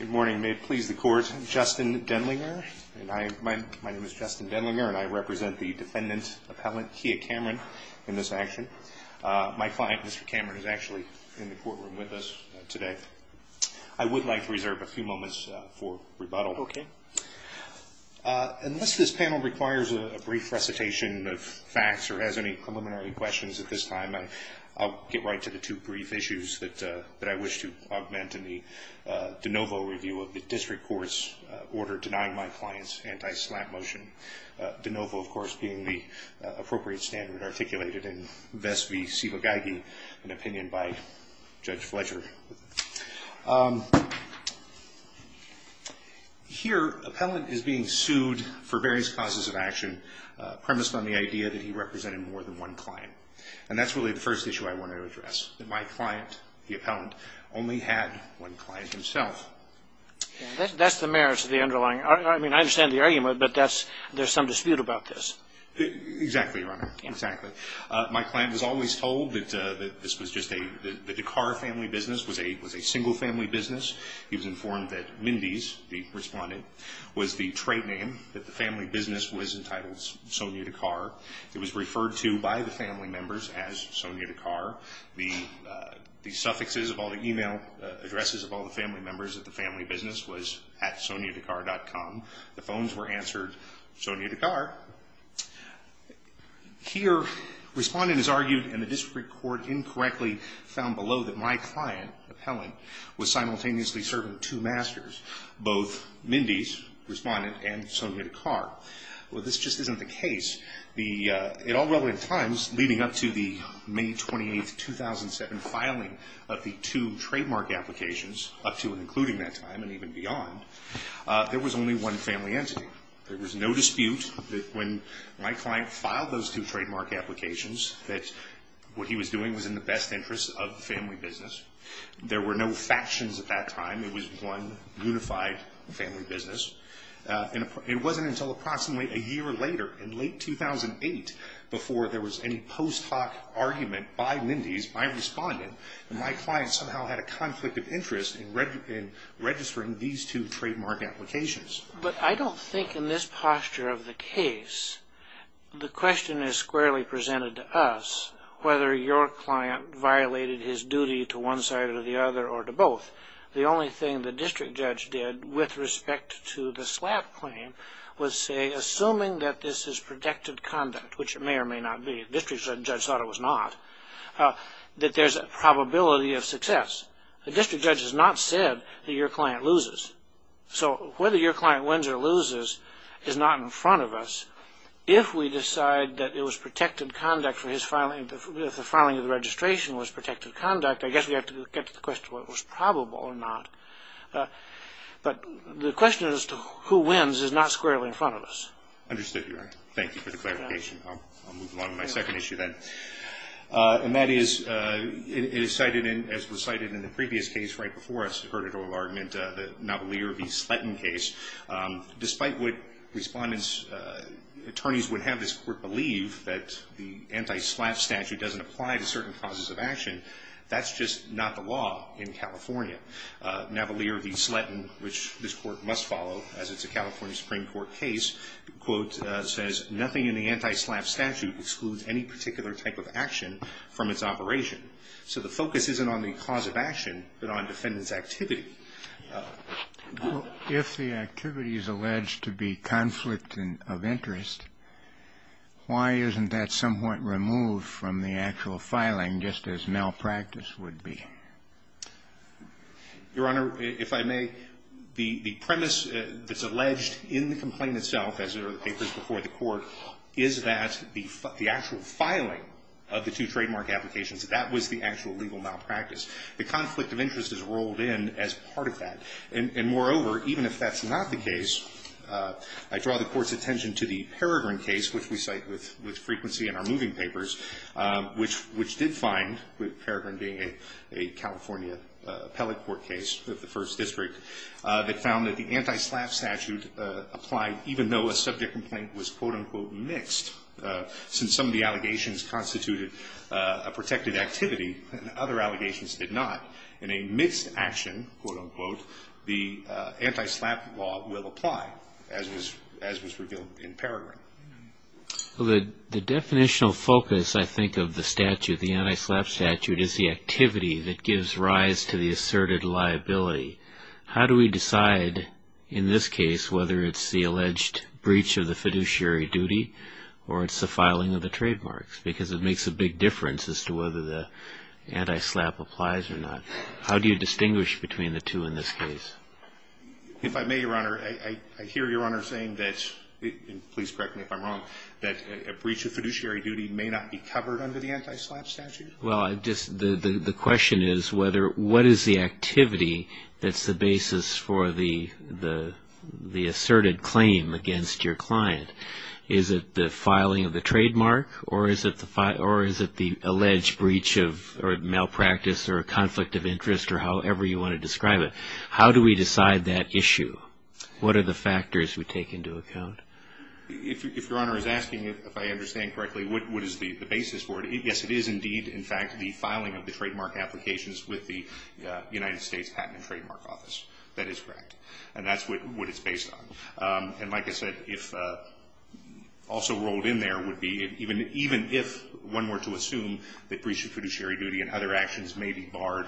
Good morning. May it please the Court, I'm Justin Denlinger. My name is Justin Denlinger and I represent the Defendant Appellant Kia Cameron in this action. My client Mr. Cameron is actually in the courtroom with us today. I would like to reserve a few moments for rebuttal. Okay. Unless this panel requires a brief recitation of facts or has any preliminary questions at this time, I'll get right to the two brief issues that I wish to augment in the de novo review of the District Court's order denying my client's anti-SLAPP motion. De novo, of course, being the appropriate standard articulated in Vest v. Sivagagi, an opinion by Judge Fletcher. Here, Appellant is being sued for various causes of action premised on the idea that he represented more than one client. And that's really the first issue I want to address, that my client, the Appellant, only had one client himself. That's the merits of the underlying argument. I mean, I understand the argument, but there's some dispute about this. Exactly, Your Honor. Exactly. My client was always told that this was just a Dakar family business, was a single family business. He was informed that Mindys, the respondent, was the trade name that the family business was entitled Sonya Dakar. It was referred to by the family members as Sonya Dakar. The suffixes of all the e-mail addresses of all the family members of the family business was at SonyaDakar.com. The phones were answered Sonya Dakar. Here, respondent has argued in the District Court incorrectly found below that my client, Appellant, was simultaneously serving two masters, both Mindys, respondent, and Sonya Dakar. Well, this just isn't the case. At all relevant times, leading up to the May 28, 2007 filing of the two trademark applications, up to and including that time and even beyond, there was only one family entity. There was no dispute that when my client filed those two trademark applications that what he was doing was in the best interest of the family business. There were no factions at that time. It was one unified family business. It wasn't until approximately a year later, in late 2008, before there was any post hoc argument by Mindys, by respondent, that my client somehow had a conflict of interest in registering these two trademark applications. But I don't think in this posture of the case, the question is squarely presented to us whether your client violated his duty to one side or the other or to both. The only thing the district judge did with respect to the slap claim was say, assuming that this is protected conduct, which it may or may not be, the district judge thought it was not, that there's a probability of success. The district judge has not said that your client loses. So whether your client wins or loses is not in front of us. If we decide that it was protected conduct for his filing, if the filing of the registration was protected conduct, I guess we have to get to the question of whether it was probable or not. But the question as to who wins is not squarely in front of us. Understood, Your Honor. Thank you for the clarification. I'll move along to my second issue then. And that is, it is cited, as was cited in the previous case right before us, the Hurtado argument, the Navalier v. Slatton case. Despite what respondents, attorneys would have this belief that the anti-slap statute doesn't apply to certain causes of action, that's just not the law in California. Navalier v. Slatton, which this Court must follow, as it's a California Supreme Court case, quote, says, nothing in the anti-slap statute excludes any particular type of action from its operation. So the focus isn't on the cause of action, but on defendant's activity. Well, if the activity is alleged to be conflict of interest, why isn't that somewhat removed from the actual filing, just as malpractice would be? Your Honor, if I may, the premise that's alleged in the complaint itself, as are the papers before the Court, is that the actual filing of the two trademark applications, that was the actual legal malpractice. The conflict of interest is rolled in as part of that. And moreover, even if that's not the case, I draw the Court's attention to the Peregrin case, which we cite with frequency in our moving papers, which did find, with Peregrin being a California appellate court case of the First District, that found that the anti-slap statute applied even though a subject complaint was, quote, unquote, mixed, since some of the allegations constituted a protected activity and other allegations did not. In a mixed action, quote, unquote, the anti-slap law will apply, as was revealed in Peregrin. Well, the definitional focus, I think, of the statute, the anti-slap statute, is the activity that gives rise to the asserted liability. How do we decide, in this case, whether it's the alleged breach of the fiduciary duty or it's the filing of the trademarks? Because it makes a big difference as to whether the anti-slap applies or not. How do you distinguish between the two in this case? If I may, Your Honor, I hear Your Honor saying that, and please correct me if I'm wrong, that a breach of fiduciary duty may not be covered under the anti-slap statute? Well, the question is what is the activity that's the basis for the asserted claim against your client? Is it the filing of the trademark or is it the alleged breach or malpractice or a conflict of interest or however you want to describe it? How do we decide that issue? What are the factors we take into account? If Your Honor is asking if I understand correctly, what is the basis for it? Yes, it is indeed, in fact, the filing of the trademark applications with the United States Patent and Trademark Office. That is correct. And that's what it's based on. And like I said, if also rolled in there would be, even if one were to assume that breach of fiduciary duty and other actions may be barred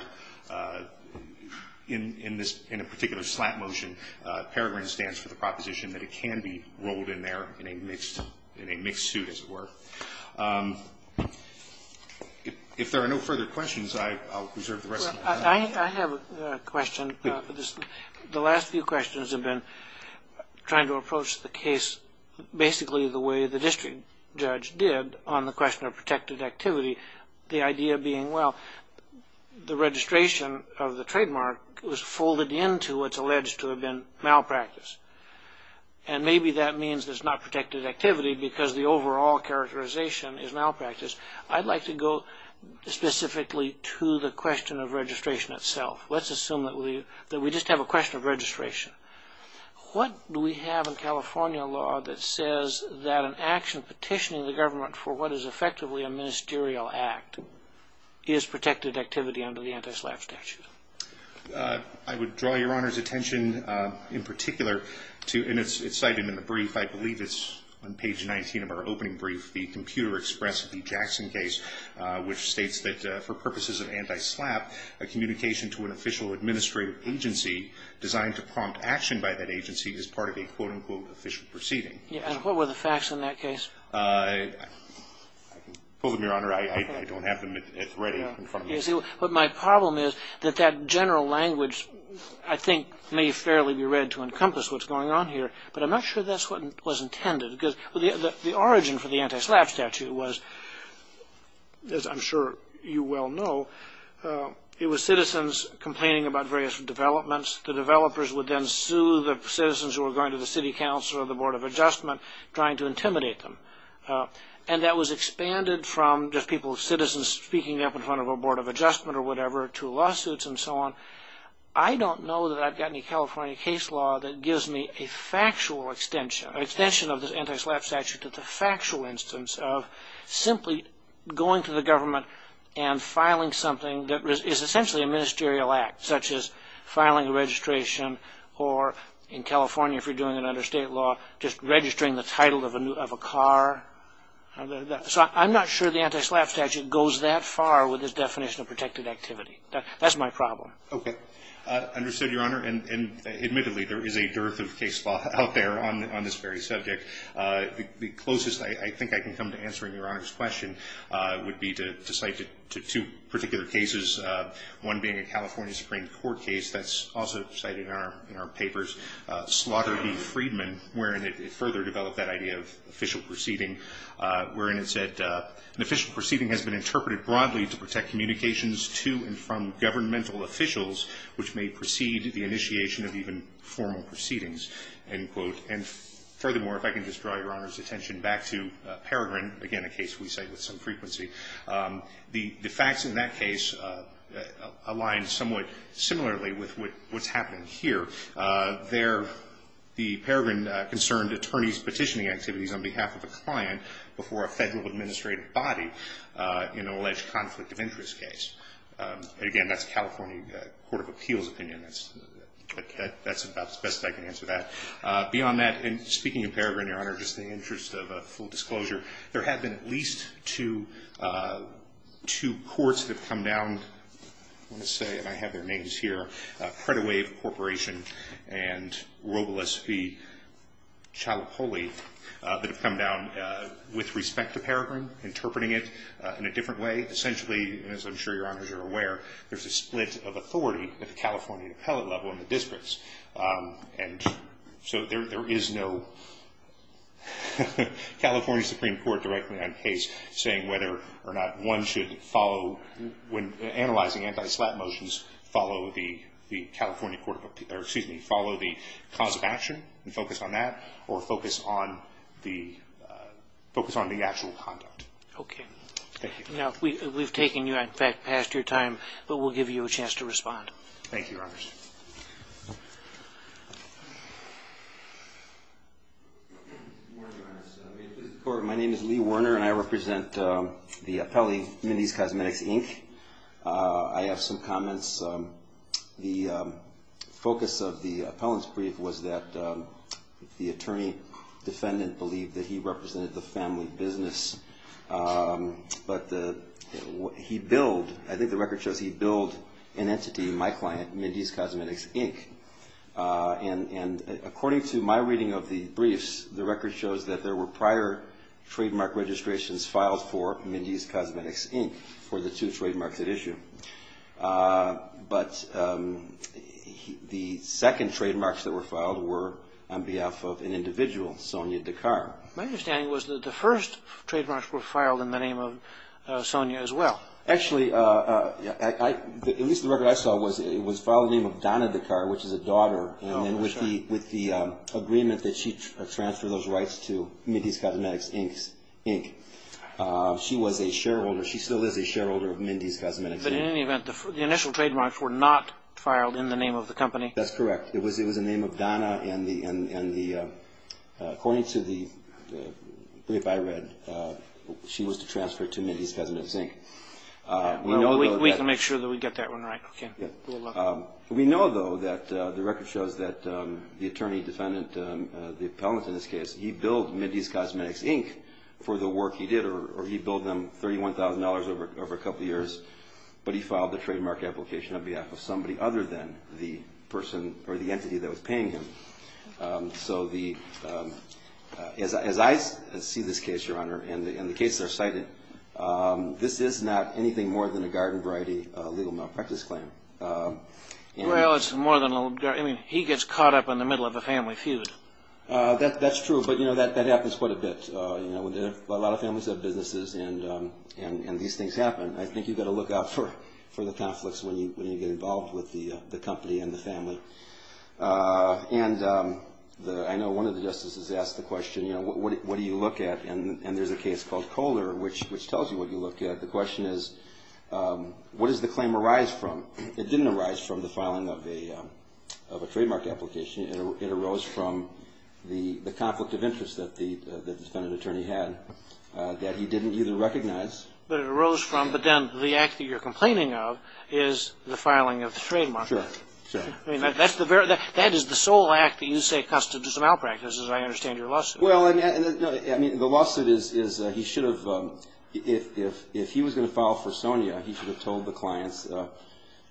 in a particular slap motion, Peregrine stands for the proposition that it can be rolled in there in a mixed suit, as it were. If there are no further questions, I'll reserve the rest of the time. I have a question. The last few questions have been trying to approach the case basically the way the district judge did on the question of protected activity, the idea being, well, the registration of the trademark was folded into what's alleged to have been malpractice. And maybe that means there's not protected activity because the overall characterization is malpractice. I'd like to go specifically to the question of registration itself. Let's assume that we just have a question of registration. What do we have in California law that says that an action petitioning the government for what is effectively a ministerial act is protected activity under the anti-slap statute? I would draw Your Honor's attention in particular to, and it's cited in the brief, I believe it's on page 19 of our opening brief, the Computer Express v. Jackson case, which states that for purposes of anti-slap, a communication to an official administrative agency designed to prompt action by that agency is part of a quote-unquote official proceeding. And what were the facts in that case? I can pull them, Your Honor. I don't have them. It's right in front of me. But my problem is that that general language, I think, may fairly be read to encompass what's going on here. But I'm not sure that's what was intended because the origin for the anti-slap statute was, as I'm sure you well know, it was citizens complaining about various developments. The developers would then sue the citizens who were going to the city council or the Board of Adjustment trying to intimidate them. And that was expanded from just people, citizens, speaking up in front of a Board of Adjustment or whatever to lawsuits and so on. I don't know that I've got any California case law that gives me a factual extension, an extension of the anti-slap statute to the factual instance of simply going to the government and filing something that is essentially a ministerial act, such as filing a registration or in California, if you're doing it under state law, just registering the title of a car. So I'm not sure the anti-slap statute goes that far with this definition of protected activity. That's my problem. Okay. Understood, Your Honor. And admittedly, there is a dearth of case law out there on this very subject. The closest I think I can come to answering Your Honor's question would be to cite two particular cases, one being a California Supreme Court case that's also cited in our papers, Slaughter v. Friedman, wherein it further developed that idea of official proceeding, wherein it said, An official proceeding has been interpreted broadly to protect communications to and from governmental officials which may precede the initiation of even formal proceedings, end quote. And furthermore, if I can just draw Your Honor's attention back to Peregrin, again, a case we cite with some frequency, the facts in that case align somewhat similarly with what's happening here. There, the Peregrin concerned attorneys petitioning activities on behalf of a client before a federal administrative body in an alleged conflict of interest case. Again, that's a California Court of Appeals opinion. That's about the best I can answer that. Beyond that, speaking of Peregrin, Your Honor, just in the interest of a full disclosure, there have been at least two courts that have come down, I want to say, and I have their names here, Credit Wave Corporation and Robles v. Cialopoli, that have come down with respect to Peregrin, interpreting it in a different way. Essentially, as I'm sure Your Honors are aware, there's a split of authority at the California appellate level in the districts. And so there is no California Supreme Court directly on case saying whether or not one should follow, when analyzing anti-slap motions, follow the California Court of Appeals, or excuse me, follow the cause of action and focus on that or focus on the actual conduct. Okay. Thank you. Now, we've taken you, in fact, past your time, but we'll give you a chance to respond. Thank you, Your Honors. Good morning, Your Honors. May it please the Court, my name is Lee Werner and I represent the appellee, Mindy's Cosmetics, Inc. I have some comments. The focus of the appellant's brief was that the attorney-defendant believed that he represented the family business. But he billed, I think the record shows he billed an entity, my client, Mindy's Cosmetics, Inc. And according to my reading of the briefs, the record shows that there were prior trademark registrations filed for Mindy's Cosmetics, Inc. for the two trademarks at issue. But the second trademarks that were filed were on behalf of an individual, Sonia Dakar. My understanding was that the first trademarks were filed in the name of Sonia as well. Actually, at least the record I saw was it was filed in the name of Donna Dakar, which is a daughter, and then with the agreement that she transfer those rights to Mindy's Cosmetics, Inc. She was a shareholder. She still is a shareholder of Mindy's Cosmetics, Inc. But in any event, the initial trademarks were not filed in the name of the company. That's correct. It was in the name of Donna, and according to the brief I read, she was to transfer to Mindy's Cosmetics, Inc. We can make sure that we get that one right. Okay. We'll look. We know, though, that the record shows that the attorney defendant, the appellant in this case, he billed Mindy's Cosmetics, Inc. for the work he did, or he billed them $31,000 over a couple of years, but he filed the trademark application on behalf of somebody other than the entity that was paying him. So as I see this case, Your Honor, and the cases are cited, this is not anything more than a garden-variety legal malpractice claim. Well, it's more than a garden-variety. I mean, he gets caught up in the middle of a family feud. That's true, but that happens quite a bit. A lot of families have businesses, and these things happen. I think you've got to look out for the conflicts when you get involved with the company and the family. And I know one of the justices asked the question, you know, what do you look at? And there's a case called Kohler, which tells you what you look at. The question is, what does the claim arise from? It didn't arise from the filing of a trademark application. It arose from the conflict of interest that the defendant attorney had that he didn't either recognize. But it arose from, but then the act that you're complaining of is the filing of the trademark. Sure, sure. I mean, that is the sole act that you say constitutes a malpractice, as I understand your lawsuit. Well, I mean, the lawsuit is he should have, if he was going to file for Sonia, he should have told the clients,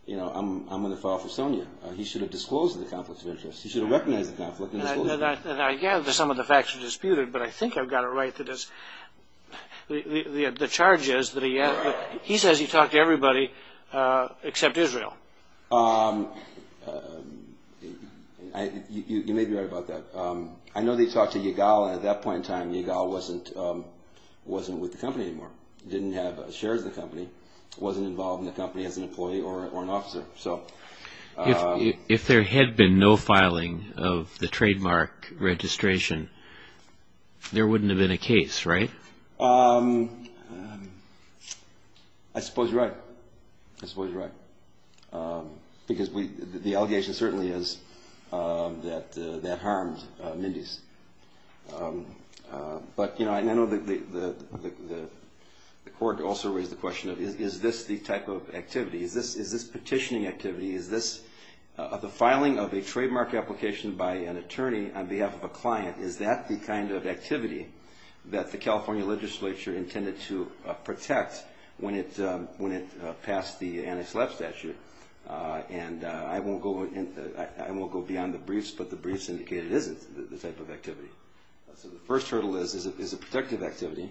you know, I'm going to file for Sonia. He should have disclosed the conflict of interest. He should have recognized the conflict and disclosed it. And I gather some of the facts are disputed, but I think I've got it right that the charges that he has, he says he talked to everybody except Israel. You may be right about that. I know they talked to Yigal, and at that point in time, Yigal wasn't with the company anymore, didn't have shares of the company, wasn't involved in the company as an employee or an officer. If there had been no filing of the trademark registration, there wouldn't have been a case, right? I suppose you're right. I suppose you're right. Because the allegation certainly is that that harmed Mindy's. But, you know, I know the court also raised the question of is this the type of activity? Is this petitioning activity? Is this the filing of a trademark application by an attorney on behalf of a client? Is that the kind of activity that the California legislature intended to protect when it passed the anti-slap statute? And I won't go beyond the briefs, but the briefs indicate it isn't the type of activity. So the first hurdle is, is it a protective activity?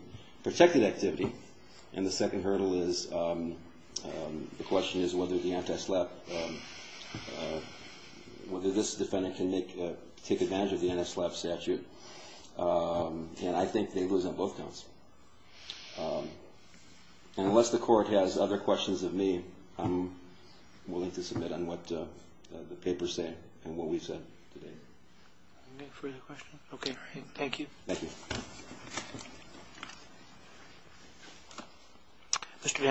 And the second hurdle is, the question is whether the anti-slap, whether this defendant can take advantage of the anti-slap statute. And I think they lose on both counts. And unless the court has other questions of me, I'm willing to submit on what the papers say and what we've said today. Any further questions? Okay. Thank you. Thank you. Mr.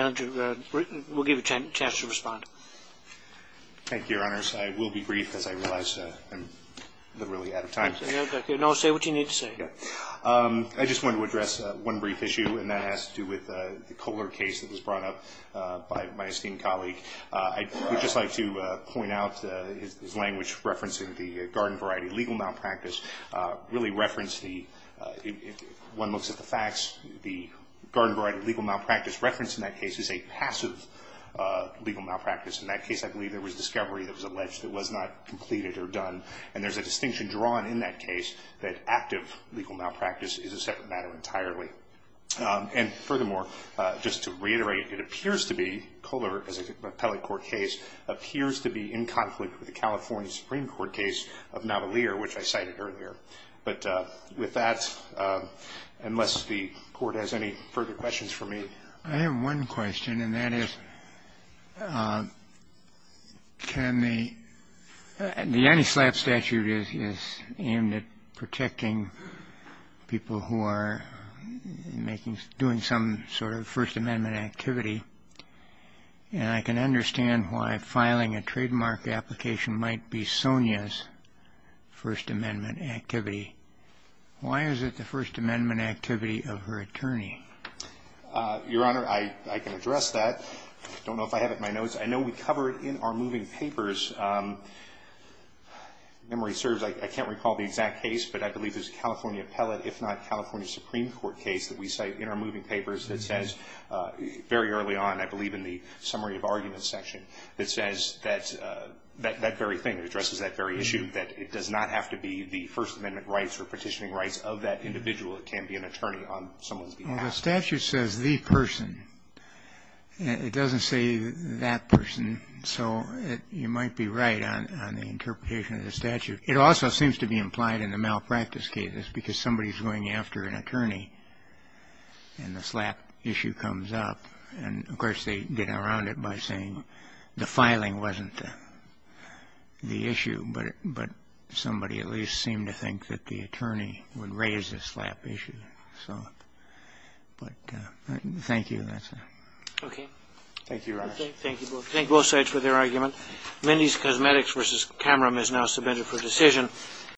Vanager, we'll give you a chance to respond. Thank you, Your Honors. I will be brief, as I realize I'm really out of time. No, it's okay. No, say what you need to say. I just want to address one brief issue, and that has to do with the Kohler case that was brought up by my esteemed colleague. I would just like to point out his language referencing the garden variety legal malpractice really referenced the, if one looks at the facts, the garden variety legal malpractice referenced in that case is a passive legal malpractice. In that case, I believe there was discovery that was alleged that was not completed or done. And there's a distinction drawn in that case that active legal malpractice is a separate matter entirely. And furthermore, just to reiterate, it appears to be, Kohler, as an appellate court case, appears to be in conflict with the California Supreme Court case of Navalier, which I cited earlier. But with that, unless the Court has any further questions for me. I have one question, and that is, can the anti-SLAPP statute is aimed at protecting people who are doing some sort of First Amendment activity, and I can understand why filing a trademark application might be Sonia's First Amendment activity. Why is it the First Amendment activity of her attorney? Your Honor, I can address that. I don't know if I have it in my notes. I know we cover it in our moving papers. If memory serves, I can't recall the exact case, but I believe there's a California appellate, if not California Supreme Court case that we cite in our moving papers that says very early on, I believe in the summary of arguments section, that says that that very thing addresses that very issue, that it does not have to be the First Amendment rights or petitioning rights of that individual. It can be an attorney on someone's behalf. Well, the statute says the person. It doesn't say that person. So you might be right on the interpretation of the statute. It also seems to be implied in the malpractice cases because somebody is going after an attorney and the SLAPP issue comes up. And, of course, they get around it by saying the filing wasn't the issue, but somebody at least seemed to think that the attorney would raise the SLAPP issue. So, but thank you. That's all. Okay. Thank you, Your Honor. Thank you both. Thank you both sides for their argument. Mindy's Cosmetics v. Cameron is now submitted for decision.